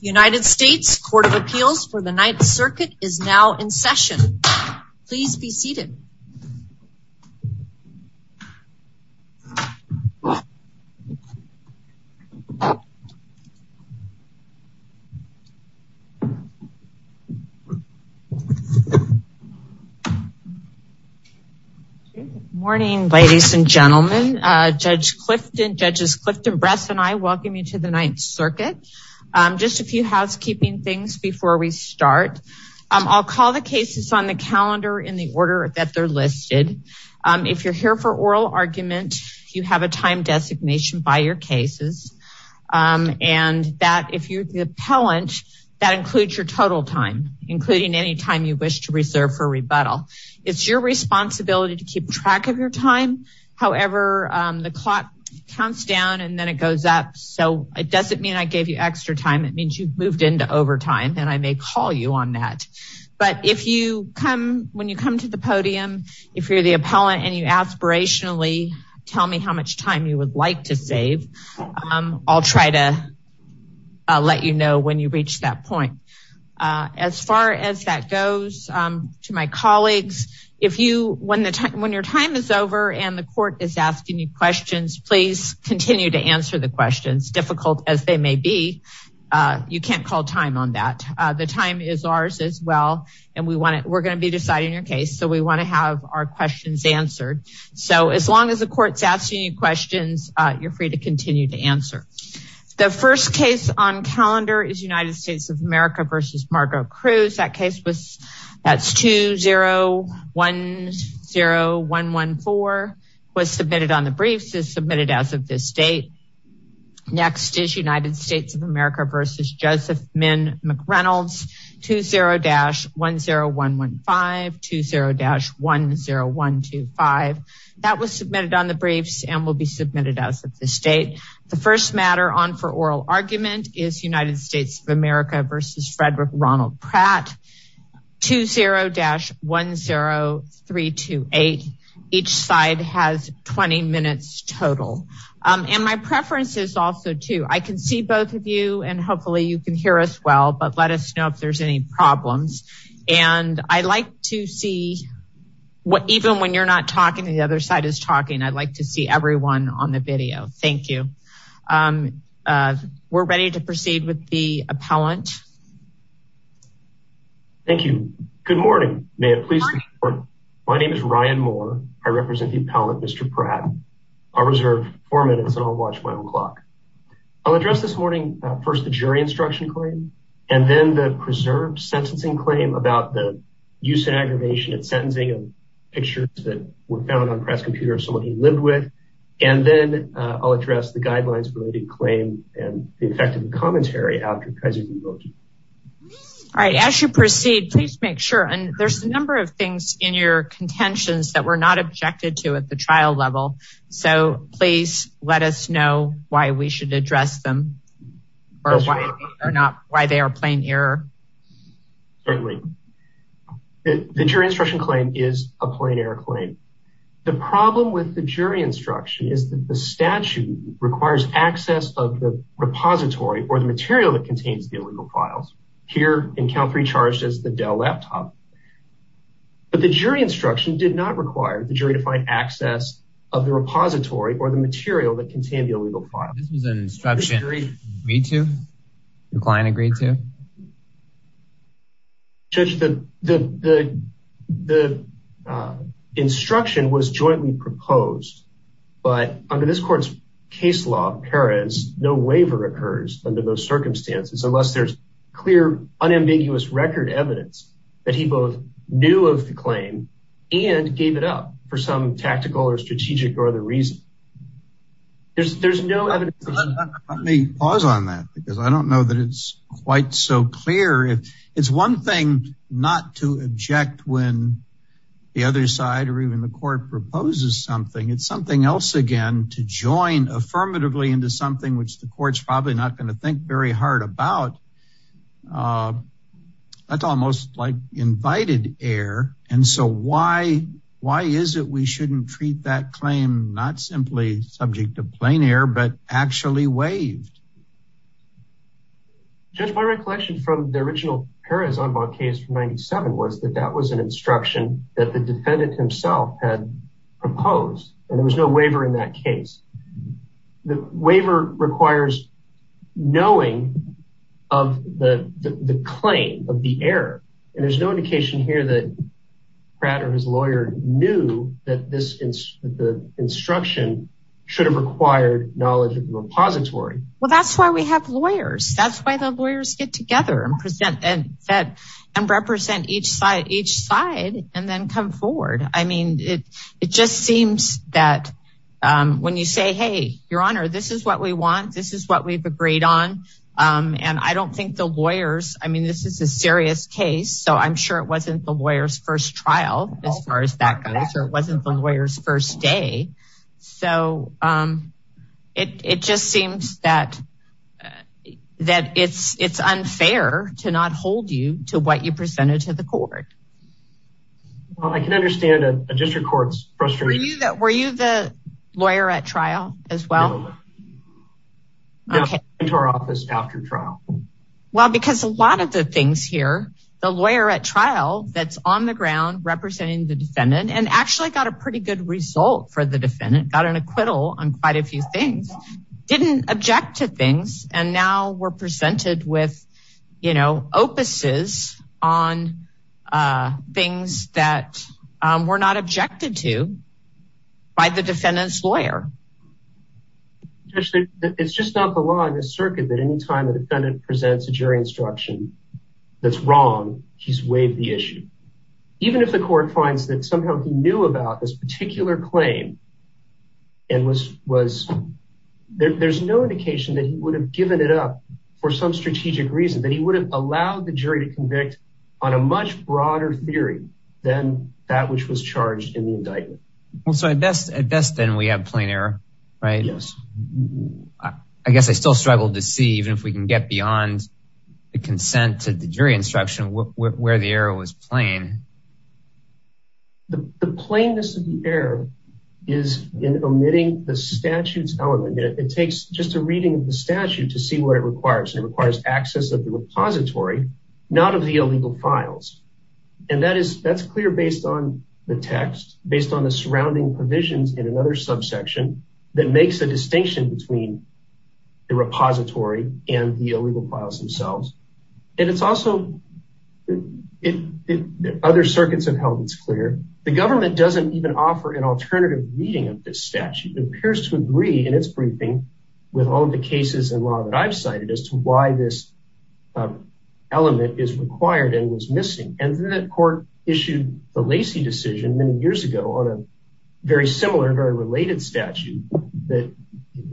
United States Court of Appeals for the Ninth Circuit is now in session. Please be seated. Good morning, ladies and gentlemen, Judge Clifton, Judges Clifton, Bress and I welcome you to the Ninth Circuit. Just a few housekeeping things before we start. I'll call the cases on the calendar in the order that they're listed. If you're here for oral argument, you have a time designation by your cases. And that if you're the appellant, that includes your total time, including any time you wish to reserve for rebuttal. It's your responsibility to keep track of your time. However, the clock counts down and then it goes up. So it doesn't mean I gave you extra time. It means you've moved into overtime and I may call you on that. But if you come, when you come to the podium, if you're the appellant and you aspirationally tell me how much time you would like to save, I'll try to let you know when you reach that point. As far as that goes to my colleagues, if you, when your time is over and the court is asking you questions, please continue to answer the questions, difficult as they may be. You can't call time on that. The time is ours as well. And we want to, we're going to be deciding your case. So we want to have our questions answered. So as long as the court's asking you questions, you're free to continue to answer. The first case on calendar is United States of America versus Margo Cruz. That case was, that's 2010114 was submitted on the briefs is submitted as of this date. Next is United States of America versus Joseph Min McReynolds, 20-10115, 20-10125. That was submitted on the briefs and will be submitted as of this date. The first matter on for oral argument is United States of America versus Frederick Ronald Pratt, 20-10328. Each side has 20 minutes total. And my preference is also to, I can see both of you and hopefully you can hear us well, but let us know if there's any problems. And I like to see what, even when you're not talking to the other side is talking, I'd like to see everyone on the video. Thank you. We're ready to proceed with the appellant. Thank you. Good morning. May it please. My name is Ryan Moore. I represent the appellant, Mr. Pratt. I'll reserve four minutes and I'll watch my own clock. I'll address this morning. First, the jury instruction claim, and then the preserved sentencing claim about the use and aggravation at sentencing and pictures that were found on Pratt's computer of someone he lived with. And then I'll address the guidelines related claim and the effect of the commentary. All right. As you proceed, please make sure, and there's a number of things in your contentions that we're not objected to at the trial level. So please let us know why we should address them or not, why they are plain error. The jury instruction claim is a plain error claim. The problem with the jury instruction is that the statute requires access of the repository or the material that contains the illegal files. Here in count three charges, the Dell laptop, but the jury instruction did not require the jury to find access of the repository or the material that contained the illegal files. The instruction was jointly proposed, but under this court's case law, Paris, no waiver occurs under those circumstances, unless there's clear unambiguous record evidence that he both knew of the claim and gave it up for some tactical or strategic or other reason. There's, there's no evidence. Let me pause on that because I don't know that it's quite so clear. It's one thing not to object when the other side, or even the court proposes something, it's something else again, to join affirmatively into something, which the court's probably not going to think very hard about. That's almost like invited air. And so why, why is it we shouldn't treat that claim, not simply subject to plain air, but actually waived. Just my recollection from the original Paris case for 97 was that that was an instruction that the defendant himself had proposed, and there was no waiver in that case. The waiver requires knowing of the claim of the error. And there's no indication here that Pratt or his lawyer knew that this is the instruction should have required knowledge of the repository. Well, that's why we have lawyers. That's why the lawyers get together and present and represent each side, each side, and then come forward. I mean, it, it just seems that when you say, hey, Your Honor, this is what we want. This is what we've agreed on. And I don't think the lawyers, I mean, this is a serious case. So I'm sure it wasn't the lawyer's first trial, as far as that that, that it's, it's unfair to not hold you to what you presented to the court. Well, I can understand a district court's frustration. Were you the lawyer at trial as well? No, I went to our office after trial. Well, because a lot of the things here, the lawyer at trial that's on the ground representing the defendant and actually got a pretty good result for the defendant, got an acquittal on quite a few things, didn't object to things. And now we're presented with, you know, opuses on things that were not objected to by the defendant's lawyer. Judge, it's just not the law in this circuit that any time the defendant presents a jury instruction that's wrong, she's waived the issue. Even if the court finds that somehow he knew about this particular claim, and was, there's no indication that he would have given it up for some strategic reason, that he would have allowed the jury to convict on a much broader theory than that which was charged in the indictment. Well, so at best, then we have plain error, right? Yes. I guess I still struggle to see even if we can get beyond the consent to the jury instruction where the error was plain. The plainness of the error is in omitting the statute's element. It takes just a reading of the statute to see where it requires and it requires access of the repository, not of the illegal files. And that is, that's clear based on the text, based on the surrounding provisions in another subsection that makes a distinction between the repository and the illegal files themselves. And it's also, other circuits have held it's clear, the government doesn't even offer an alternative reading of this statute. It appears to agree in its briefing with all the cases in law that I've cited as to why this element is required and was missing. And then the court issued the Lacey decision many years ago on a very similar, very related statute that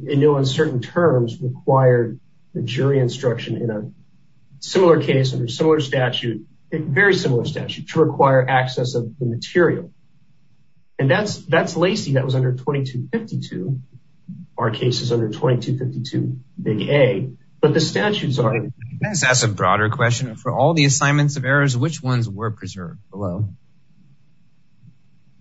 in no uncertain terms required the jury instruction in a case under similar statute, a very similar statute to require access of the material. And that's, that's Lacey that was under 2252. Our case is under 2252, big A, but the statutes are... Can I just ask a broader question? For all the assignments of errors, which ones were preserved below?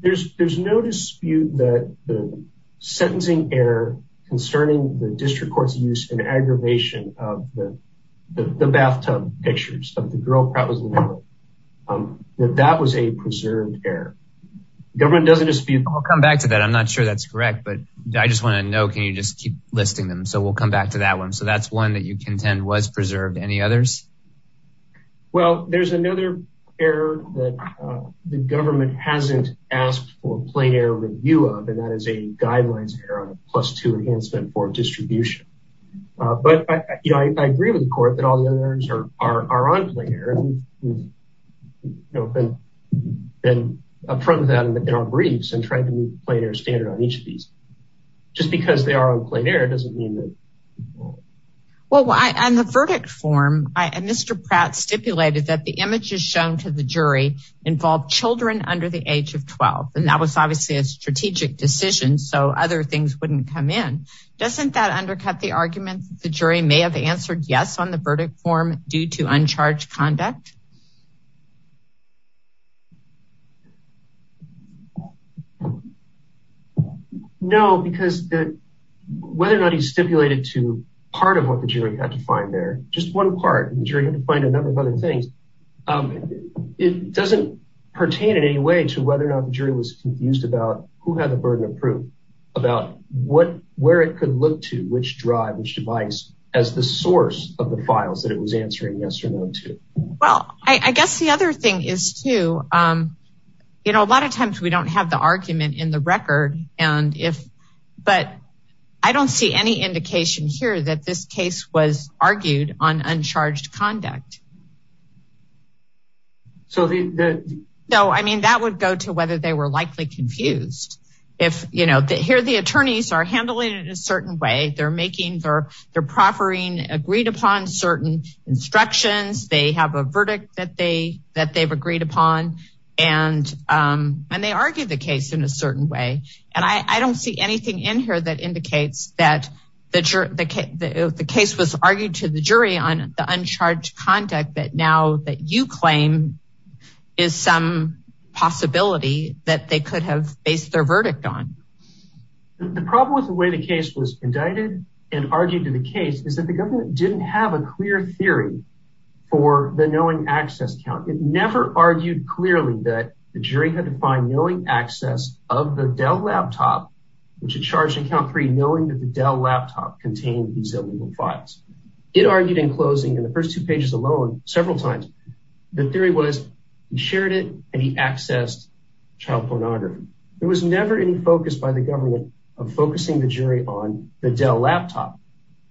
There's, there's no dispute that the sentencing error concerning the district court's use and pictures of the girl probably that that was a preserved error. Government doesn't dispute... I'll come back to that. I'm not sure that's correct, but I just want to know, can you just keep listing them? So we'll come back to that one. So that's one that you contend was preserved. Any others? Well, there's another error that the government hasn't asked for a plain error review of, and that is a guidelines error on a plus two enhancement for distribution. But, you know, I are on plain error. You know, I've been up front with that in our briefs and trying to meet the plain error standard on each of these. Just because they are on plain error doesn't mean that... Well, on the verdict form, Mr. Pratt stipulated that the images shown to the jury involve children under the age of 12. And that was obviously a strategic decision, so other things wouldn't come in. Doesn't that undercut the argument that the jury may have answered yes on the verdict form due to uncharged conduct? No, because whether or not he stipulated to part of what the jury had to find there, just one part, and the jury had to find a number of other things, it doesn't pertain in any way to whether or not the jury was confused about who had the burden of proof, about where it could look which drive, which device, as the source of the files that it was answering yes or no to. Well, I guess the other thing is too, you know, a lot of times we don't have the argument in the record, but I don't see any indication here that this case was argued on uncharged conduct. No, I mean, that would go to whether they were likely confused. If, you know, here the attorneys are handling it in a certain way, they're making their proffering agreed upon certain instructions, they have a verdict that they've agreed upon, and they argue the case in a certain way. And I don't see anything in here that indicates that the case was argued to the jury on the uncharged conduct that now that you claim is some possibility that they could have based their verdict on. The problem with the way the case was indicted and argued to the case is that the government didn't have a clear theory for the knowing access count. It never argued clearly that the jury had to find knowing access of the Dell laptop, which had charged in count three, knowing that the Dell laptop contained these illegal files. It argued in closing in the first two pages alone, several times. The theory was he shared it and he accessed child pornography. There was never any focus by the government of focusing the jury on the Dell laptop.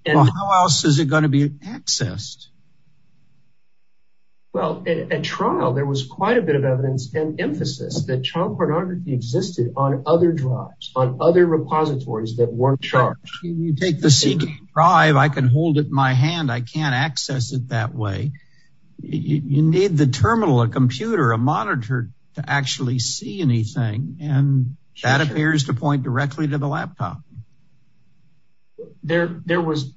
And how else is it going to be accessed? Well, at trial, there was quite a bit of evidence and emphasis that child pornography existed on other drives on other repositories that weren't charged. You take the CD drive. I can hold it in my hand. I can't access it that way. You need the terminal, a computer, a monitor to actually see anything. And that appears to point directly to the laptop. There was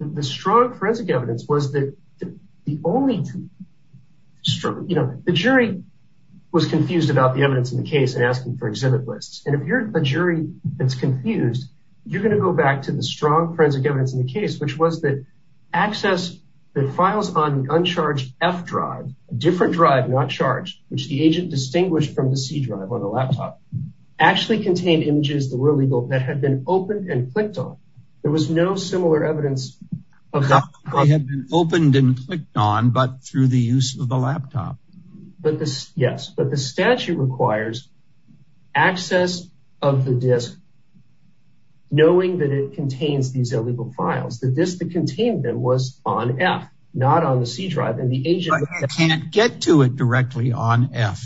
the strong forensic evidence was that the only strong, you know, the jury was confused about the evidence in the case and asking for exhibit lists. And if you're a jury that's confused, you're going to go back to the strong forensic evidence in the case, which was that access the files on the uncharged F drive, a different drive, not charged, which the agent distinguished from the C drive on the laptop actually contained images that were legal that had been opened and clicked on. There was no similar evidence. They had been opened and clicked on, but through the use of the laptop. But yes, but the statute requires access of the disk, knowing that it contains these illegal files. The disk that contained them was on F, not on the C drive and the agent can't get to it directly on F.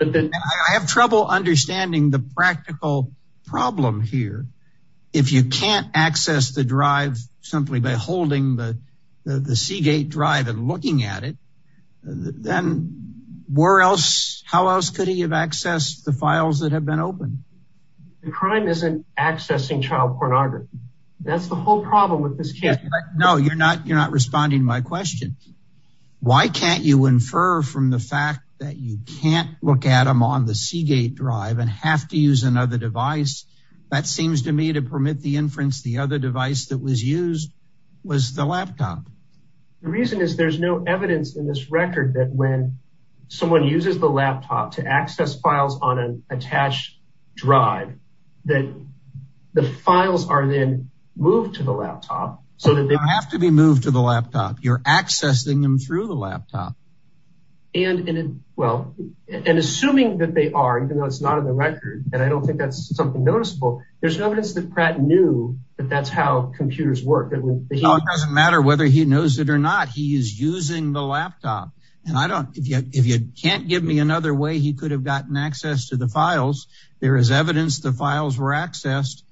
I have trouble understanding the practical problem here. If you can't access the holding the C gate drive and looking at it, then where else, how else could he have accessed the files that have been opened? The crime isn't accessing child pornography. That's the whole problem with this case. No, you're not. You're not responding to my question. Why can't you infer from the fact that you can't look at them on the C gate drive and have to use another device? That seems to me to permit the inference, the other device that was used was the laptop. The reason is there's no evidence in this record that when someone uses the laptop to access files on an attached drive, that the files are then moved to the laptop. So that they have to be moved to the laptop. You're accessing them through the laptop. And well, and assuming that they are, even though it's not in the record, and I don't think that's noticeable, there's no evidence that Pratt knew that that's how computers work. It doesn't matter whether he knows it or not. He is using the laptop. And I don't, if you can't give me another way, he could have gotten access to the files. There is evidence the files were accessed.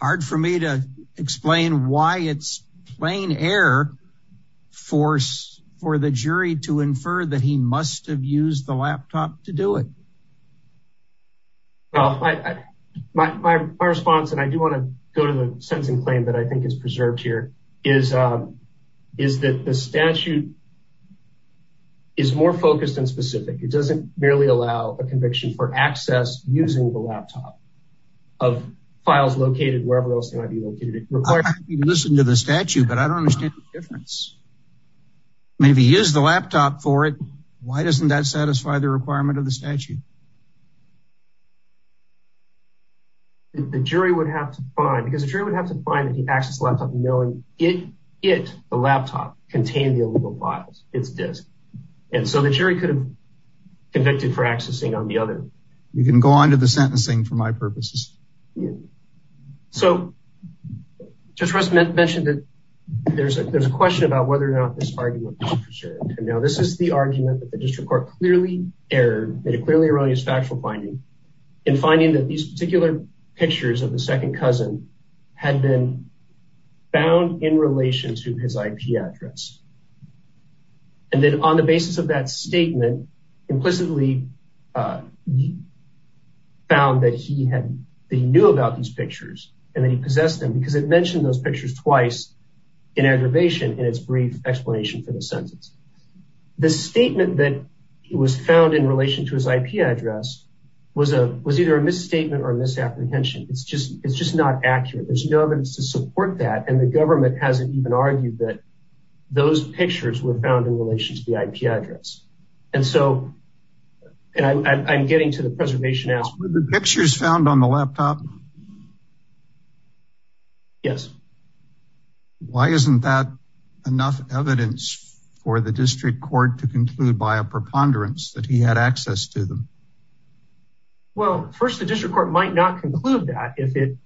Hard for me to explain why it's plain error for the jury to infer that he must have used the laptop to do it. My response, and I do want to go to the sense and claim that I think is preserved here, is that the statute is more focused and specific. It doesn't merely allow a conviction for access using the laptop of files located wherever else they might be located. You listen to the statute, but I don't understand the difference. I mean, if he used the laptop for it, why doesn't that satisfy the requirement of the statute? The jury would have to find, because the jury would have to find that he accessed the laptop knowing it, the laptop, contained the illegal files, it's disk. And so the jury could have convicted for accessing on the other. You can go on to the sentencing for my purposes. Yeah, so just mentioned that there's a question about whether or not this argument is for sure. Now, this is the argument that the district court clearly errored, made a clearly erroneous factual finding in finding that these particular pictures of the second cousin had been found in relation to his IP address. And then on the basis of that statement, implicitly he found that he knew about these pictures and that he possessed them because it mentioned those pictures twice in aggravation in its brief explanation for the sentence. The statement that it was found in relation to his IP address was either a misstatement or misapprehension. It's just not accurate. There's no evidence to support that. And the government hasn't even that those pictures were found in relation to the IP address. And so, and I'm getting to the preservation as the pictures found on the laptop. Yes. Why isn't that enough evidence for the district court to conclude by a preponderance that he had access to them? Well, first, the district court might not conclude that if it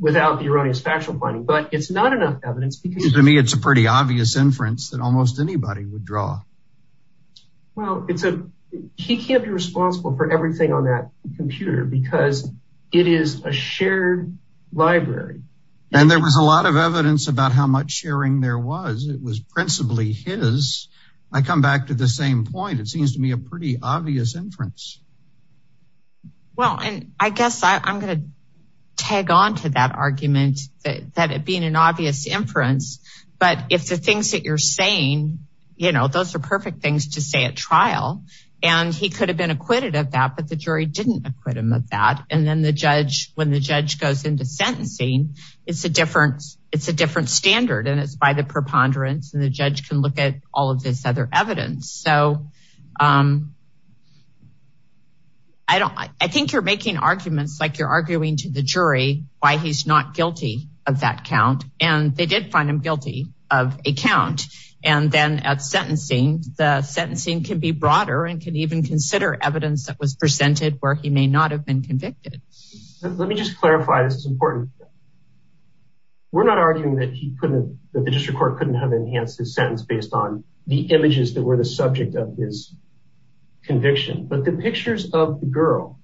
without the erroneous factual finding, but it's not enough evidence because to me, it's a pretty obvious inference that almost anybody would draw. Well, it's a, he can't be responsible for everything on that computer because it is a shared library. And there was a lot of evidence about how much sharing there was. It was principally his. I come back to the same point. It seems to me a pretty obvious inference. Well, and I guess I'm going to tag on to that argument that it being an obvious inference, but if the things that you're saying, those are perfect things to say at trial, and he could have been acquitted of that, but the jury didn't acquit him of that. And then the judge, when the judge goes into sentencing, it's a different standard and it's by the preponderance and the judge can look at all of this other evidence. So I don't, I think you're making arguments like you're arguing to the jury why he's not guilty of that count. And they did find him guilty of a count. And then at sentencing, the sentencing can be broader and can even consider evidence that was presented where he may not have been convicted. Let me just clarify. This is based on the images that were the subject of his conviction, but the pictures of the girl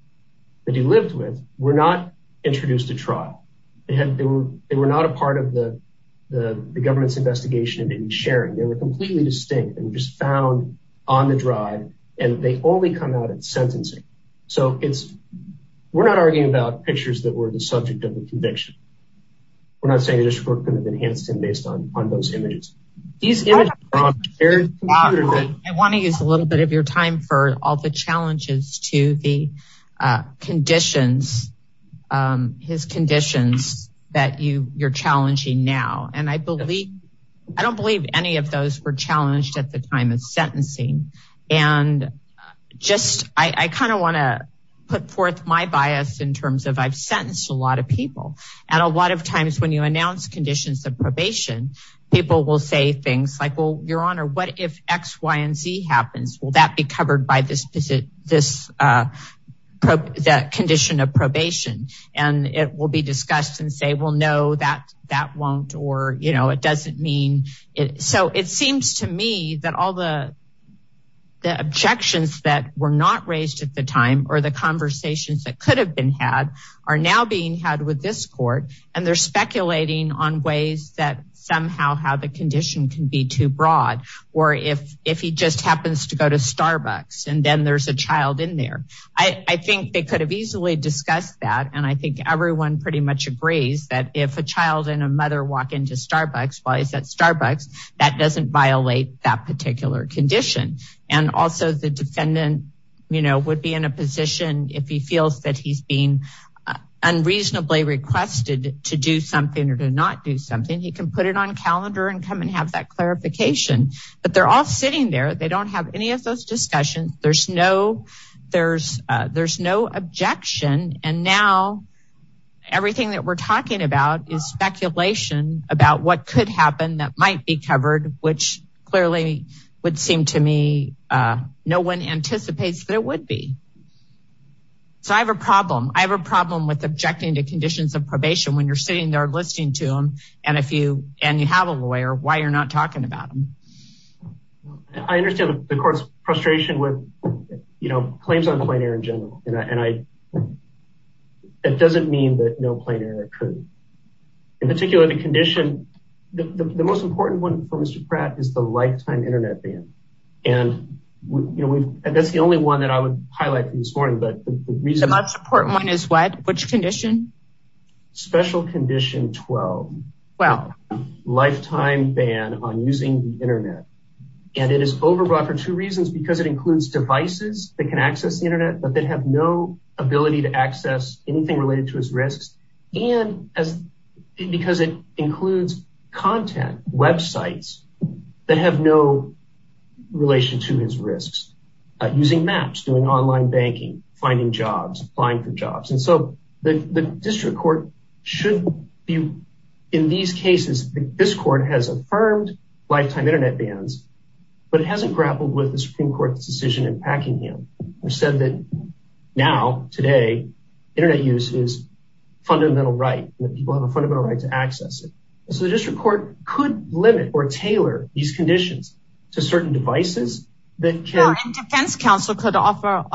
that he lived with were not introduced to trial. They were not a part of the government's investigation of any sharing. They were completely distinct and just found on the drive and they only come out at sentencing. So we're not arguing about pictures that were the subject of the conviction. We're not saying the district court could have enhanced him based on those images. I want to use a little bit of your time for all the challenges to the conditions, his conditions that you're challenging now. And I believe, I don't believe any of those were challenged at the time of sentencing. And just, I kind of want to put forth my bias in at a lot of times when you announce conditions of probation, people will say things like, well, your honor, what if X, Y, and Z happens? Will that be covered by this, this, that condition of probation? And it will be discussed and say, well, no, that, that won't, or, you know, it doesn't mean it. So it seems to me that all the, the objections that were not raised at the time, or the conversations that could have been had are now being had with this court. And they're speculating on ways that somehow how the condition can be too broad, or if, if he just happens to go to Starbucks and then there's a child in there, I think they could have easily discussed that. And I think everyone pretty much agrees that if a child and a mother walk into Starbucks, while he's at Starbucks, that doesn't violate that particular condition. And also the defendant, you know, would be in a position if he feels that he's being unreasonably requested to do something or to not do something, he can put it on calendar and come and have that clarification. But they're all sitting there. They don't have any of those discussions. There's no, there's, there's no objection. And now everything that we're talking about is speculation about what could happen that might be covered, which clearly would seem to me, no one anticipates that it would be. So I have a problem. I have a problem with objecting to conditions of probation, when you're sitting there listening to them. And if you, and you have a lawyer, why you're not talking about them. I understand the court's frustration with, you know, claims on plein air in general. And I, it doesn't mean that no plein air could. In particular, the condition, the most important one for Mr. Pratt is the lifetime internet ban. And you know, that's the only one that I would highlight this morning, but the most important one is what, which condition? Special condition 12. Well, lifetime ban on using the internet. And it is overbought for two reasons, because it includes devices that can access the internet, but they'd have no ability to access anything related to his risks. And as because it includes content websites that have no relation to his risks, using maps, doing online banking, finding jobs, applying for jobs. And so the district court should be in these cases, this court has affirmed lifetime internet bans, but it hasn't grappled with the Supreme Court's decision in Packingham, which said that now, today, internet use is a fundamental right, that people have a fundamental right to access it. So the district court could limit or tailor these conditions to certain devices that can. And defense counsel could also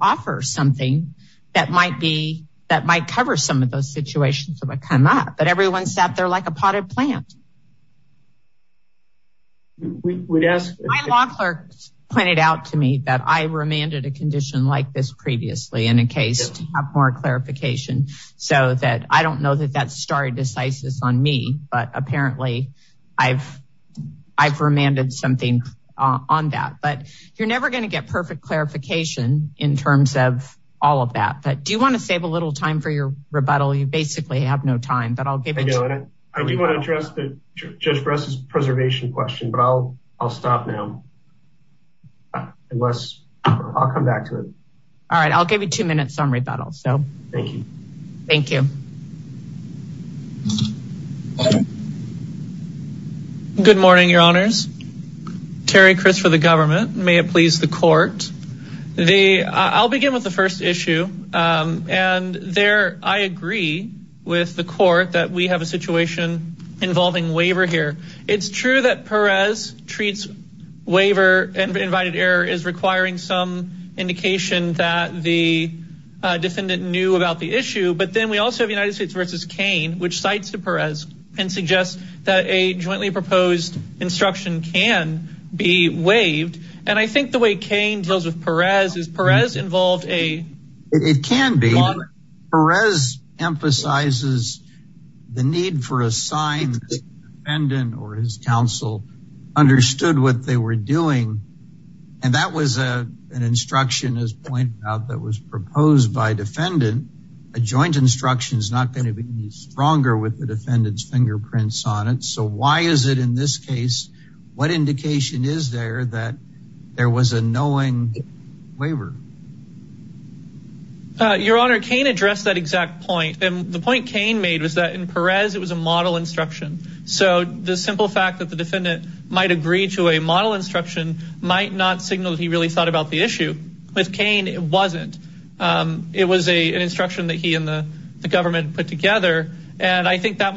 offer something that might be, that might cover some of those situations, but cannot. But everyone sat there like a potted plant. My law clerks pointed out to me that I remanded a condition like this previously in a case to have more clarification. So that I don't know that that's stare decisis on me, but apparently I've remanded something on that, but you're never going to get perfect clarification in terms of all of that. But do you want to save a little time for your rebuttal? You basically have no time, but I'll give it to you. I do want to address Judge Bress's preservation question, but I'll stop now. Unless I'll come back to it. All right. I'll give you two minutes on rebuttal. So thank you. Thank you. Good morning, your honors. Terry Chris for the government. May it please the court. The, I'll begin with the first issue. And there, I agree with the court that we have a situation involving waiver here. It's true that Perez treats waiver and invited error is requiring some indication that the defendant knew about the issue. But then we also have United States versus Kane, which cites the Perez and suggests that a jointly proposed instruction can be waived. And I think the way Kane deals with Perez is Perez involved a. It can be. Perez emphasizes the need for a sign that the defendant or his counsel understood what they were doing. And that was an instruction as pointed out that was proposed by defendant. A joint instruction is not going to be stronger with the defendant's fingerprints on it. So why is it in this case? What indication is there that there was a knowing waiver? Your honor, Kane addressed that exact point. And the point Kane made was that in Perez, it was a model instruction. So the simple fact that the defendant might agree to a model instruction might not signal that he really thought about the issue with Kane. It wasn't. It was a, an instruction that he and the government put together. And I think that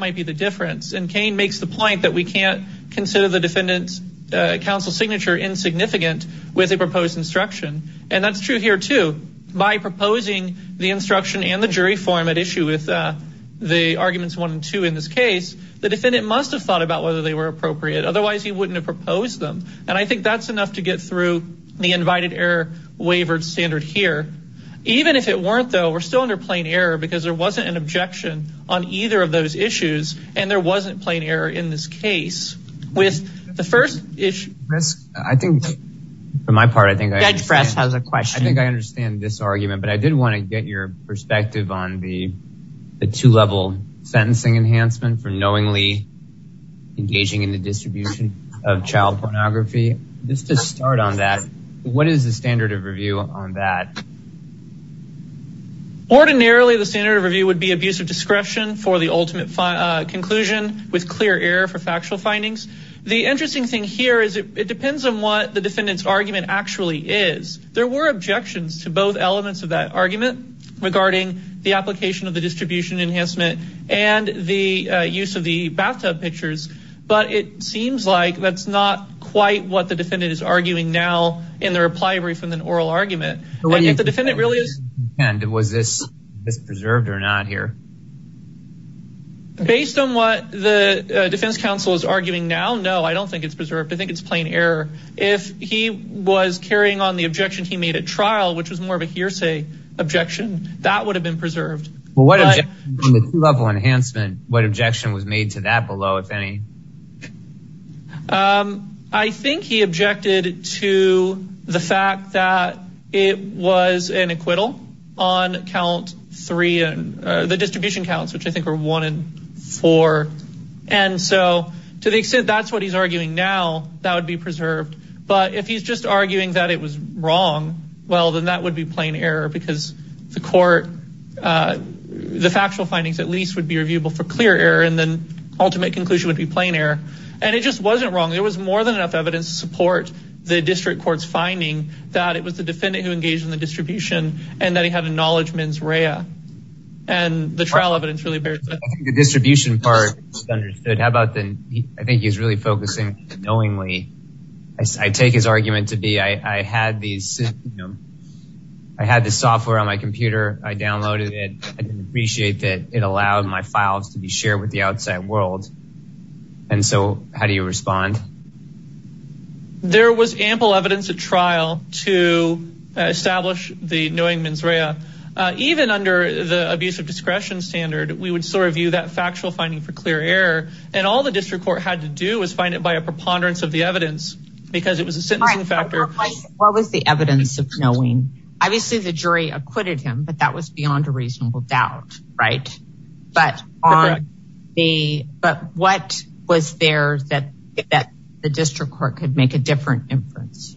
we can't consider the defendant's counsel signature insignificant with a proposed instruction. And that's true here, too, by proposing the instruction and the jury form at issue with the arguments one and two. In this case, the defendant must have thought about whether they were appropriate. Otherwise, he wouldn't have proposed them. And I think that's enough to get through the invited error waivered standard here. Even if it weren't, though, we're still under plain error because there wasn't an objection on either of those issues. And there wasn't plain error in this case with the first issue. Chris, I think for my part, I think Fred has a question. I think I understand this argument, but I did want to get your perspective on the two level sentencing enhancement for knowingly engaging in the distribution of child pornography. Just to start on that, what is the standard of review on that? Ordinarily, the standard of review would be abuse of discretion for the ultimate conclusion, with clear error for factual findings. The interesting thing here is it depends on what the defendant's argument actually is. There were objections to both elements of that argument regarding the application of the distribution enhancement and the use of the bathtub pictures. But it seems like that's not quite what the defendant is arguing now in the reply brief in an oral argument. And if the defendant really is... Was this preserved or not here? Based on what the defense counsel is arguing now, no, I don't think it's preserved. I think it's plain error. If he was carrying on the objection he made at trial, which was more of a hearsay objection, that would have been preserved. Well, what objection on the two level enhancement, what objection was made to that below, if any? I think he objected to the fact that it was an acquittal on count three, the distribution counts, which I think were one and four. And so to the extent that's what he's arguing now, that would be preserved. But if he's just arguing that it was wrong, well, then that would be plain error because the court, the factual findings at least would be reviewable for clear error and then ultimate conclusion would be plain error. And it just wasn't wrong. There was more than enough evidence to support the district court's finding that it was the defendant who was engaged in the distribution and that he had a knowledge mens rea. And the trial evidence really bears it. I think the distribution part is understood. I think he's really focusing knowingly. I take his argument to be, I had this software on my computer. I downloaded it. I didn't appreciate that it allowed my files to be shared with the outside world. And so how do you respond? There was ample evidence at trial to establish the knowing mens rea. Even under the abuse of discretion standard, we would sort of view that factual finding for clear error and all the district court had to do was find it by a preponderance of the evidence because it was a sentencing factor. What was the evidence of knowing? Obviously the jury acquitted him, that was beyond a reasonable doubt. But what was there that the district court could make a different inference?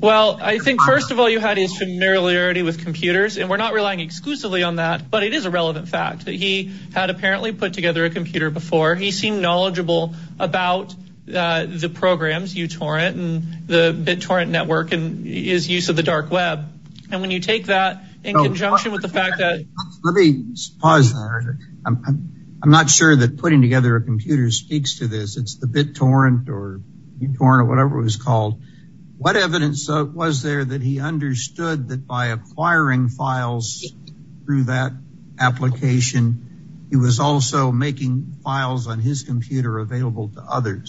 Well, I think first of all you had his familiarity with computers and we're not relying exclusively on that, but it is a relevant fact that he had apparently put together a computer before. He seemed knowledgeable about the programs, uTorrent and the BitTorrent network and his use of the dark web. And when you take that in conjunction with the fact that... Let me pause there. I'm not sure that putting together a computer speaks to this. It's the BitTorrent or uTorrent or whatever it was called. What evidence was there that he understood that by acquiring files through that application, he was also making files on his computer available to the public?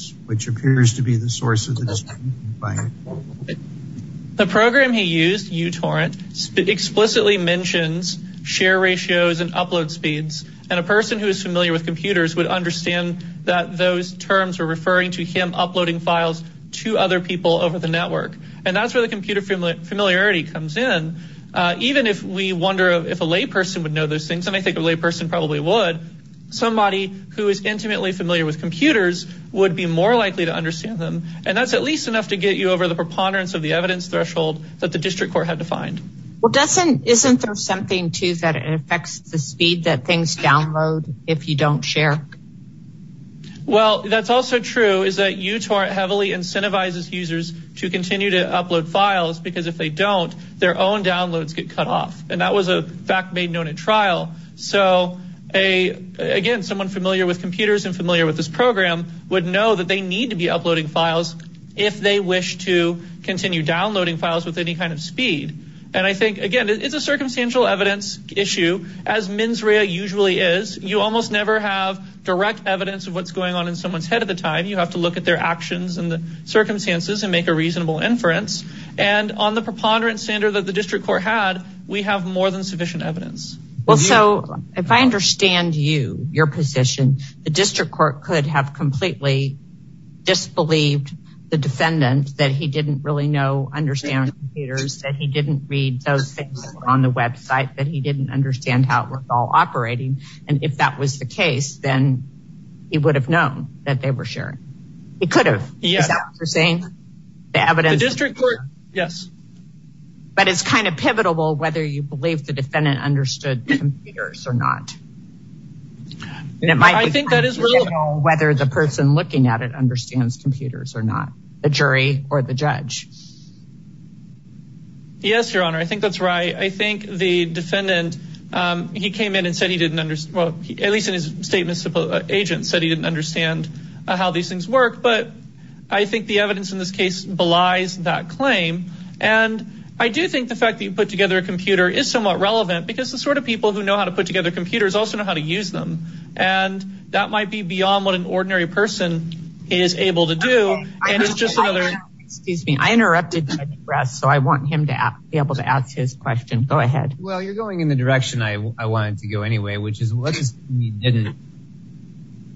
The program he used, uTorrent, explicitly mentions share ratios and upload speeds. And a person who is familiar with computers would understand that those terms were referring to him uploading files to other people over the network. And that's where the computer familiarity comes in. Even if we wonder if a lay person would know those things, and I think a lay person probably would, somebody who is intimately familiar with computers would be likely to understand them. And that's at least enough to get you over the preponderance of the evidence threshold that the district court had to find. Well, isn't there something too that affects the speed that things download if you don't share? Well, that's also true is that uTorrent heavily incentivizes users to continue to upload files because if they don't, their own downloads get cut off. And that was a fact made known at trial. So again, someone familiar with computers and familiar with this program would know that they need to be uploading files if they wish to continue downloading files with any kind of speed. And I think, again, it's a circumstantial evidence issue, as mens rea usually is. You almost never have direct evidence of what's going on in someone's head at the time. You have to look at their actions and the circumstances and make a reasonable inference. And on the preponderance standard that the district court had, we have more than sufficient evidence. Well, so if I understand you, your position, the district court could have completely disbelieved the defendant that he didn't really know, understand computers, that he didn't read those things on the website, that he didn't understand how it was all operating. And if that was the case, then he would have known that they were sharing. He could have. Is that what you're saying? Yes. But it's kind of pivotal whether you believe the defendant understood computers or not. I think that is whether the person looking at it understands computers or not, the jury or the judge. Yes, your honor, I think that's right. I think the defendant, he came in and said he didn't understand, at least in his statement, agent said he didn't understand how these things work. But I think the evidence in this case belies that claim. And I do think the fact that you put together a computer is somewhat relevant because the sort of people who know how to put together computers also know how to use them. And that might be beyond what an ordinary person is able to do. And it's just another excuse me. I interrupted the press, so I want him to be able to ask his question. Go ahead. Well, you're going in the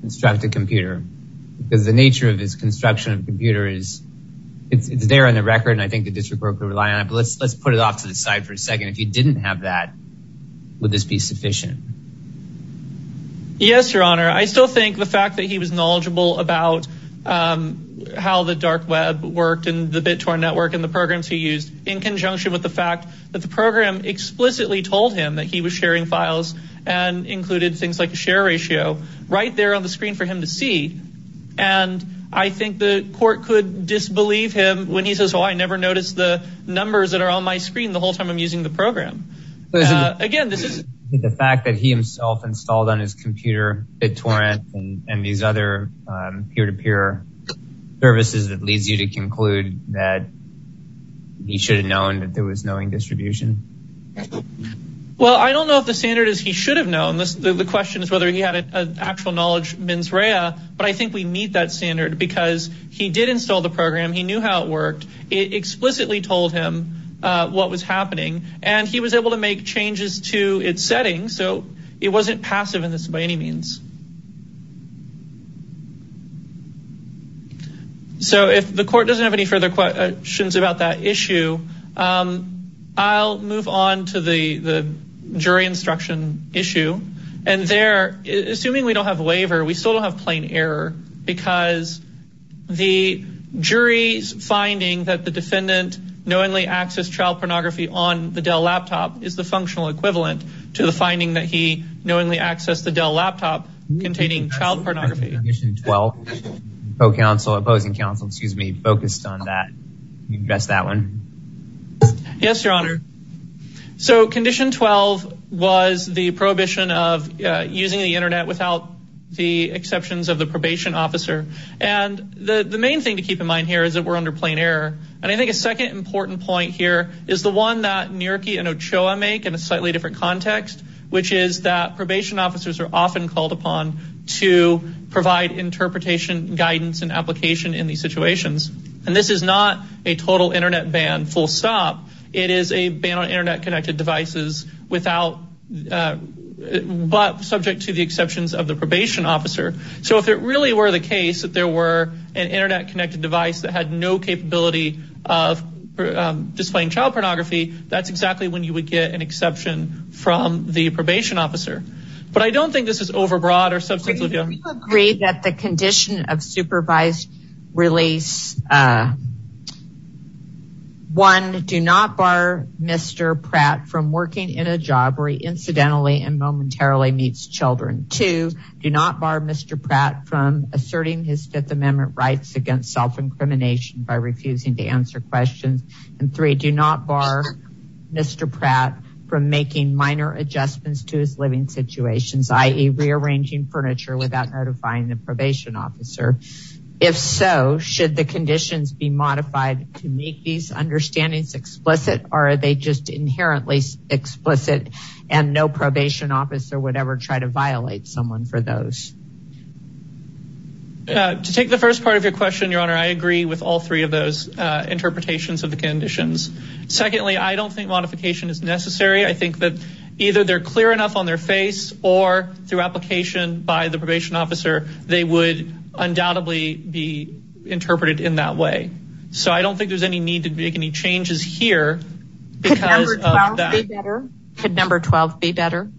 constructed computer because the nature of this construction of computer is it's there on the record. And I think the district will rely on it. Let's let's put it off to the side for a second. If you didn't have that, would this be sufficient? Yes, your honor, I still think the fact that he was knowledgeable about how the dark web worked and the BitTor network and the programs he used in conjunction with the fact that the program explicitly told him that he was sharing files and included things like the share ratio right there on the screen for him to see. And I think the court could disbelieve him when he says, oh, I never noticed the numbers that are on my screen the whole time I'm using the program. Again, this is the fact that he himself installed on his computer BitTorrent and these other peer-to-peer services that leads you to conclude that he should have known that was knowing distribution. Well, I don't know if the standard is he should have known this. The question is whether he had an actual knowledge mens rea. But I think we meet that standard because he did install the program. He knew how it worked. It explicitly told him what was happening and he was able to make changes to its setting. So it wasn't passive in this by any means. So if the court doesn't have any further questions about that issue, I'll move on to the jury instruction issue. And there, assuming we don't have a waiver, we still don't have plain error because the jury's finding that the defendant knowingly accessed child pornography on the Dell laptop is the functional equivalent to the finding that he knowingly accessed the Dell laptop containing child pornography. Condition 12. Opposing counsel, excuse me, focused on that. Can you address that one? Yes, your honor. So condition 12 was the prohibition of using the internet without the exceptions of the probation officer. And the main thing to keep in mind here is that we're under plain error. And I think a second important point here is the one that Nierke and Ochoa make in a slightly different context, which is that probation officers are often called upon to provide interpretation, guidance, and application in these situations. And this is not a total internet ban, full stop. It is a ban on internet connected devices without, but subject to the exceptions of the probation officer. So if it really were the case that there were an internet connected device that had no capability of displaying child pornography, that's exactly when you would get an exception from the probation officer. But I don't think this is overbroad or substantive. Do you agree that the condition of supervised release, one, do not bar Mr. Pratt from working in a job where he incidentally and momentarily meets children. Two, do not bar Mr. Pratt from asserting his fifth amendment rights against self-incrimination by refusing to answer questions. And three, do not bar Mr. Pratt from making minor adjustments to his living situations, i.e. rearranging furniture without notifying the probation officer. If so, should the conditions be modified to make these understandings explicit or are they just inherently explicit and no probation officer would ever try to violate someone for those? To take the first part of your question, Your Honor, I agree with all three of those interpretations of the conditions. Secondly, I don't think modification is necessary. I think either they're clear enough on their face or through application by the probation officer, they would undoubtedly be interpreted in that way. So I don't think there's any need to make any changes here because of that. Could number 12 be better?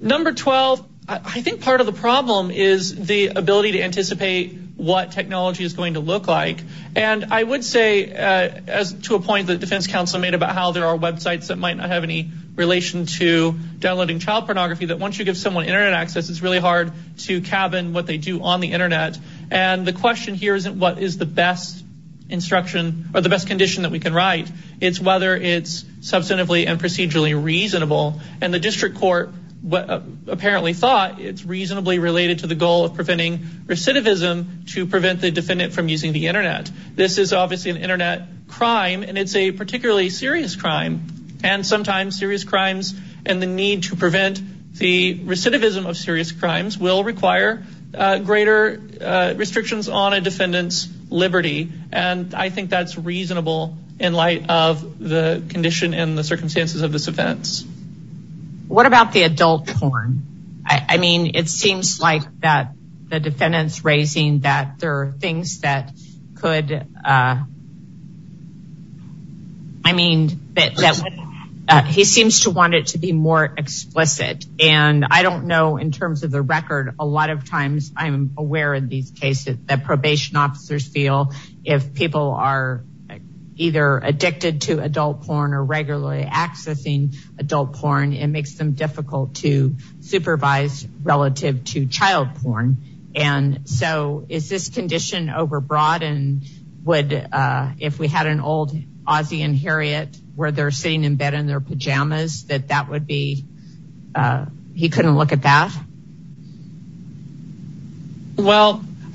Number 12, I think part of the problem is the ability to anticipate what technology is going to look like. And I would say, to a point that defense counsel made about how there are websites that might not have any relation to downloading child pornography, that once you give someone internet access, it's really hard to cabin what they do on the internet. And the question here isn't what is the best instruction or the best condition that we can write. It's whether it's substantively and procedurally reasonable. And the district court apparently thought it's reasonably related to the goal of preventing recidivism to prevent the defendant from using the internet. This is obviously an internet crime and it's a particularly serious crime. And sometimes serious crimes and the need to prevent the recidivism of serious crimes will require greater restrictions on a defendant's liberty. And I think that's reasonable in light of the condition and the circumstances of this events. What about the adult porn? I mean, it could, I mean, he seems to want it to be more explicit. And I don't know in terms of the record, a lot of times I'm aware in these cases that probation officers feel if people are either addicted to adult porn or regularly accessing adult porn, it makes them difficult to deal with. Well,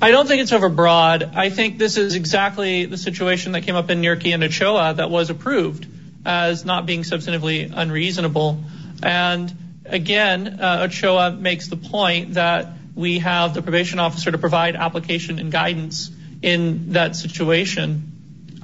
I don't think it's overbroad. I think this is exactly the situation that came up in Nearki and Ochoa that was approved as not being substantively unreasonable. And again, Ochoa makes the point that we have the probation officer to provide application and guidance in that situation.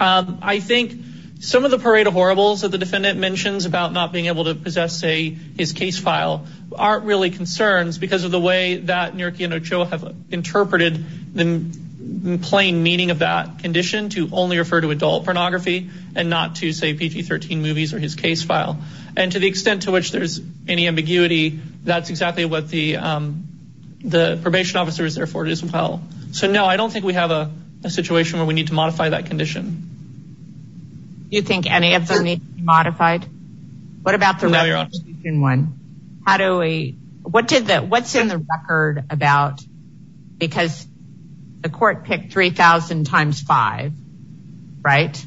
I think some of the parade of horribles that the defendant mentions about not being able to possess, say, his case file aren't really concerns because of the way that Nearki and Ochoa have interpreted the plain meaning of that condition to only refer to adult pornography and not to say PG-13 movies or his case file. And to the extent to which there's any ambiguity, that's exactly what the probation officer is there for as well. So no, I don't think we have a situation where we need to modify that condition. Do you think any of them need to be modified? What about the representation one? What's in the record about, because the court picked 3,000 times five, right?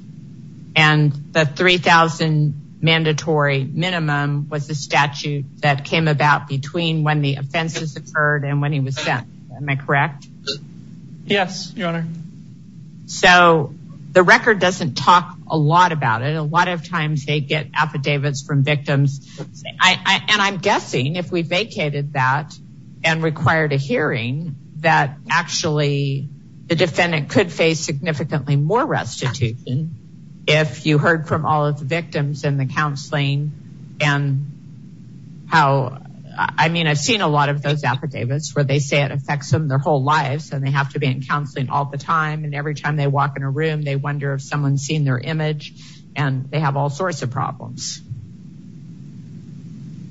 And the 3,000 mandatory minimum was the statute that came about between when the offenses occurred and when he was sent. Am I correct? Yes, Your Honor. So the record doesn't talk a lot about it. A lot of times they get affidavits from victims. And I'm guessing if we vacated that and required a hearing that actually the defendant could face significantly more restitution if you heard from all of the victims and the counseling and how, I mean, I've seen a lot of those affidavits where they say it affects them their whole lives and they have to be in counseling all the time. And every time they walk in a room, they wonder if someone's seen their image and they have all sorts of problems.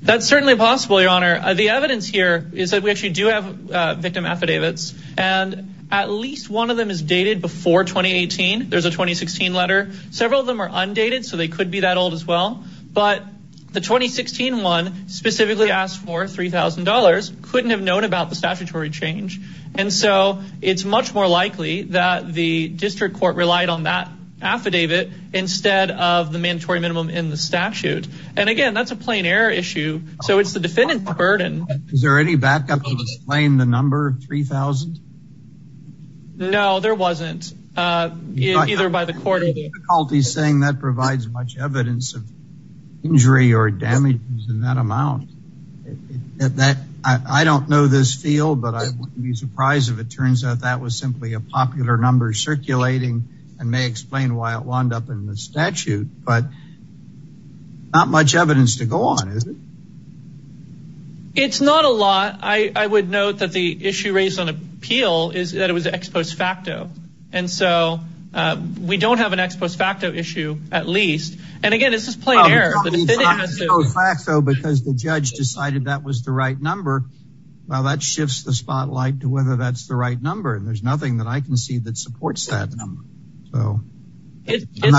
That's certainly possible, Your Honor. The evidence here is that we actually do have victim affidavits and at least one of them is dated before 2018. There's a 2016 letter. Several of them are undated, so they could be that old as well. But the 2016 one specifically asked for $3,000, couldn't have known about the statutory change. And so it's much more likely that the district court relied on that affidavit instead of the mandatory minimum in the statute. And again, that's a plain error issue. So it's the defendant's burden. Is there any backup to explain the number of 3,000? No, there wasn't. Either by the court or the- I have difficulty saying that provides much evidence of injury or damage in that amount. I don't know this field, but I wouldn't be surprised if it turns out that was simply a popular number circulating and may explain why it wound up in the statute. But not much evidence to go on, is it? It's not a lot. I would note that the issue raised on appeal is that it was ex post facto. And so we don't have an ex post facto issue, at least. And again, it's just plain error. Well, it's not ex post facto because the judge decided that was the right number. Well, that shifts the spotlight to whether that's the right number. And there's nothing that I can see that supports that number. So I'm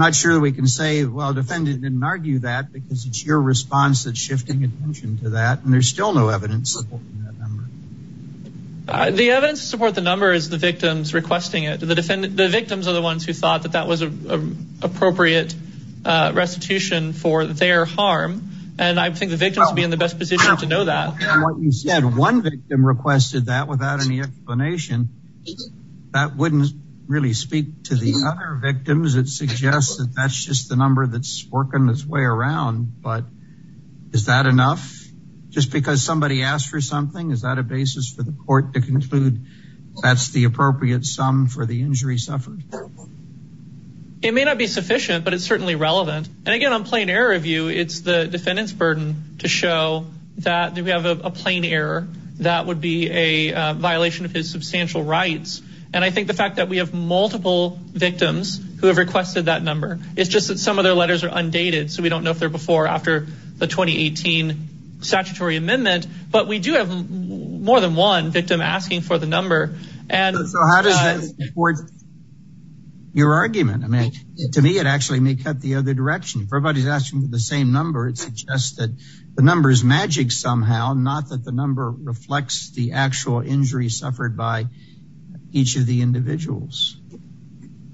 not sure that we can say, well, the defendant didn't argue that because it's your response that's shifting attention to that. And there's still no evidence supporting that number. The evidence to support the number is the victims requesting it. The victims are the ones who thought that that was an appropriate restitution for their harm. And I think the victims would be in the best position to know that. What you said, one victim requested that without any explanation. That wouldn't really speak to the other victims. It suggests that that's just the number that's working its way around. But is that enough just because somebody asked for something? Is that a basis for the court to conclude that's the appropriate sum for the injury suffered? It may not be sufficient, but it's certainly relevant. And again, on plain error review, it's the defendant's burden to show that we have a plain error that would be a violation of his substantial rights. And I think the fact that we have multiple victims who have requested that number, it's just that some of their letters are undated. So we don't know if they're before after the 2018 statutory amendment, but we do have more than one victim asking for the number. And so how does that support your argument? I mean, to me, it actually may cut the other direction. If everybody's asking for the same number, it suggests that the number is magic somehow, not that the number reflects the actual injury suffered by each of the individuals.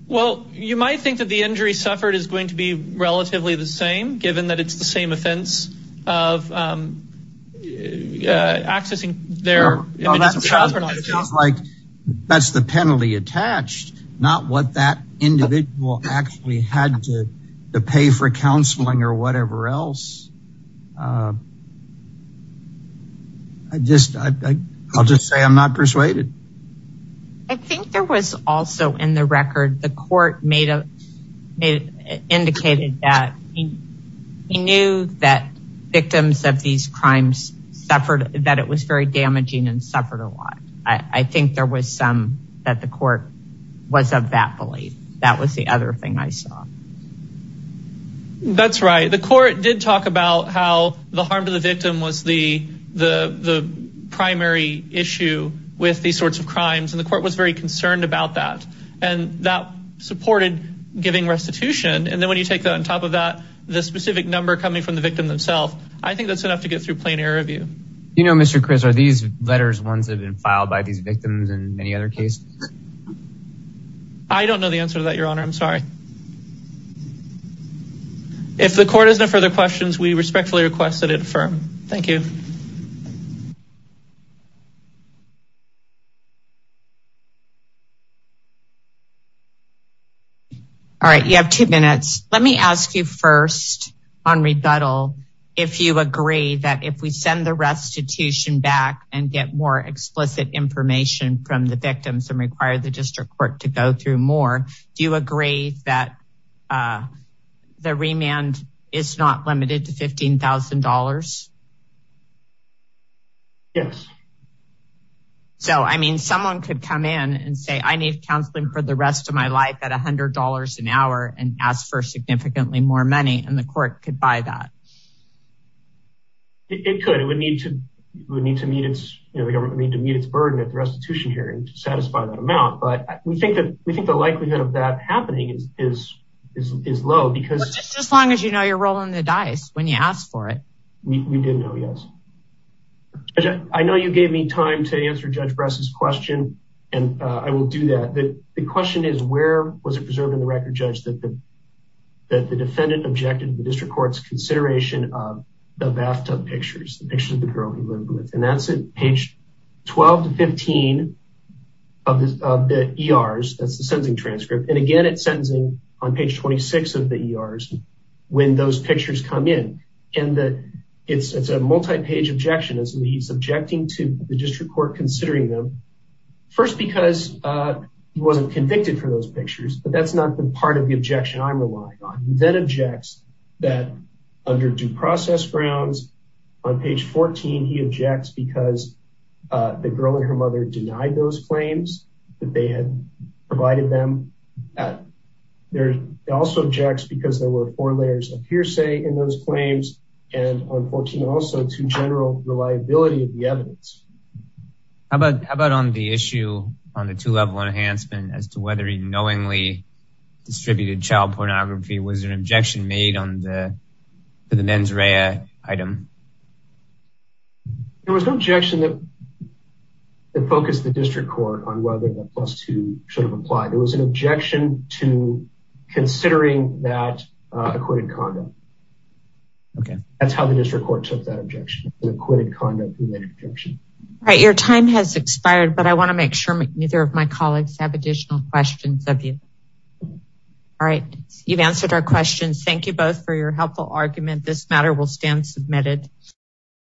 Well, you might think that the injury suffered is going to be relatively the same, given that it's the same offense of accessing their child. That's the penalty attached, not what that individual actually had to pay for counseling or whatever else. I'll just say I'm not persuaded. I think there was also in the record, the court indicated that he knew that victims of these crimes suffered, that it was very damaging and suffered a lot. I think there was some that the court was of that belief. That was the other thing I saw. That's right. The court did talk about how the harm to the victim was the primary issue with these sorts of crimes, and the court was very concerned about that. And that supported giving restitution. And then when you take that on top of that, the specific number coming from the victim themself, I think that's enough to get through plain error review. You know, Mr. Chris, are these letters ones that have been filed by these victims in many other cases? I don't know the answer to that, Your Honor. I'm sorry. If the court has no further questions, we respectfully request that it affirm. Thank you. All right, you have two minutes. Let me ask you first on rebuttal, if you agree that if we send restitution back and get more explicit information from the victims and require the district court to go through more, do you agree that the remand is not limited to $15,000? Yes. So I mean, someone could come in and say, I need counseling for the rest of my life at $100 an hour and ask for significantly more money and the court could buy that. It could, it would need to meet its burden at the restitution hearing to satisfy that amount. But we think that we think the likelihood of that happening is low because... As long as you know you're rolling the dice when you ask for it. We did know, yes. I know you gave me time to answer Judge Bress's question, and I will do that. The question is, where was it preserved in the record, Judge, that the defendant objected to the district court's consideration of the bathtub pictures, the pictures of the girl he lived with? And that's at page 12 to 15 of the ERs, that's the sentencing transcript. And again, it's sentencing on page 26 of the ERs when those pictures come in. And that it's a multi-page objection, he's objecting to the district court considering them. First, because he wasn't convicted for those pictures, but that's not the part of the objection I'm relying on. He then objects that under due process grounds on page 14, he objects because the girl and her mother denied those claims that they had provided them. They also object because there were four layers of hearsay in those claims and on 14 also to general reliability of the evidence. How about on the issue on the two-level enhancement as to whether he knowingly distributed child pornography, was there an objection made on the mens rea item? There was no objection that focused the district court on whether the plus two should have applied. There was an objection to considering that acquitted condom. Okay, that's how the district court took that objection, the acquitted condom. All right, your time has expired, but I want to make sure neither of my colleagues have additional questions of you. All right, you've answered our questions. Thank you both for your helpful argument. This matter will stand submitted.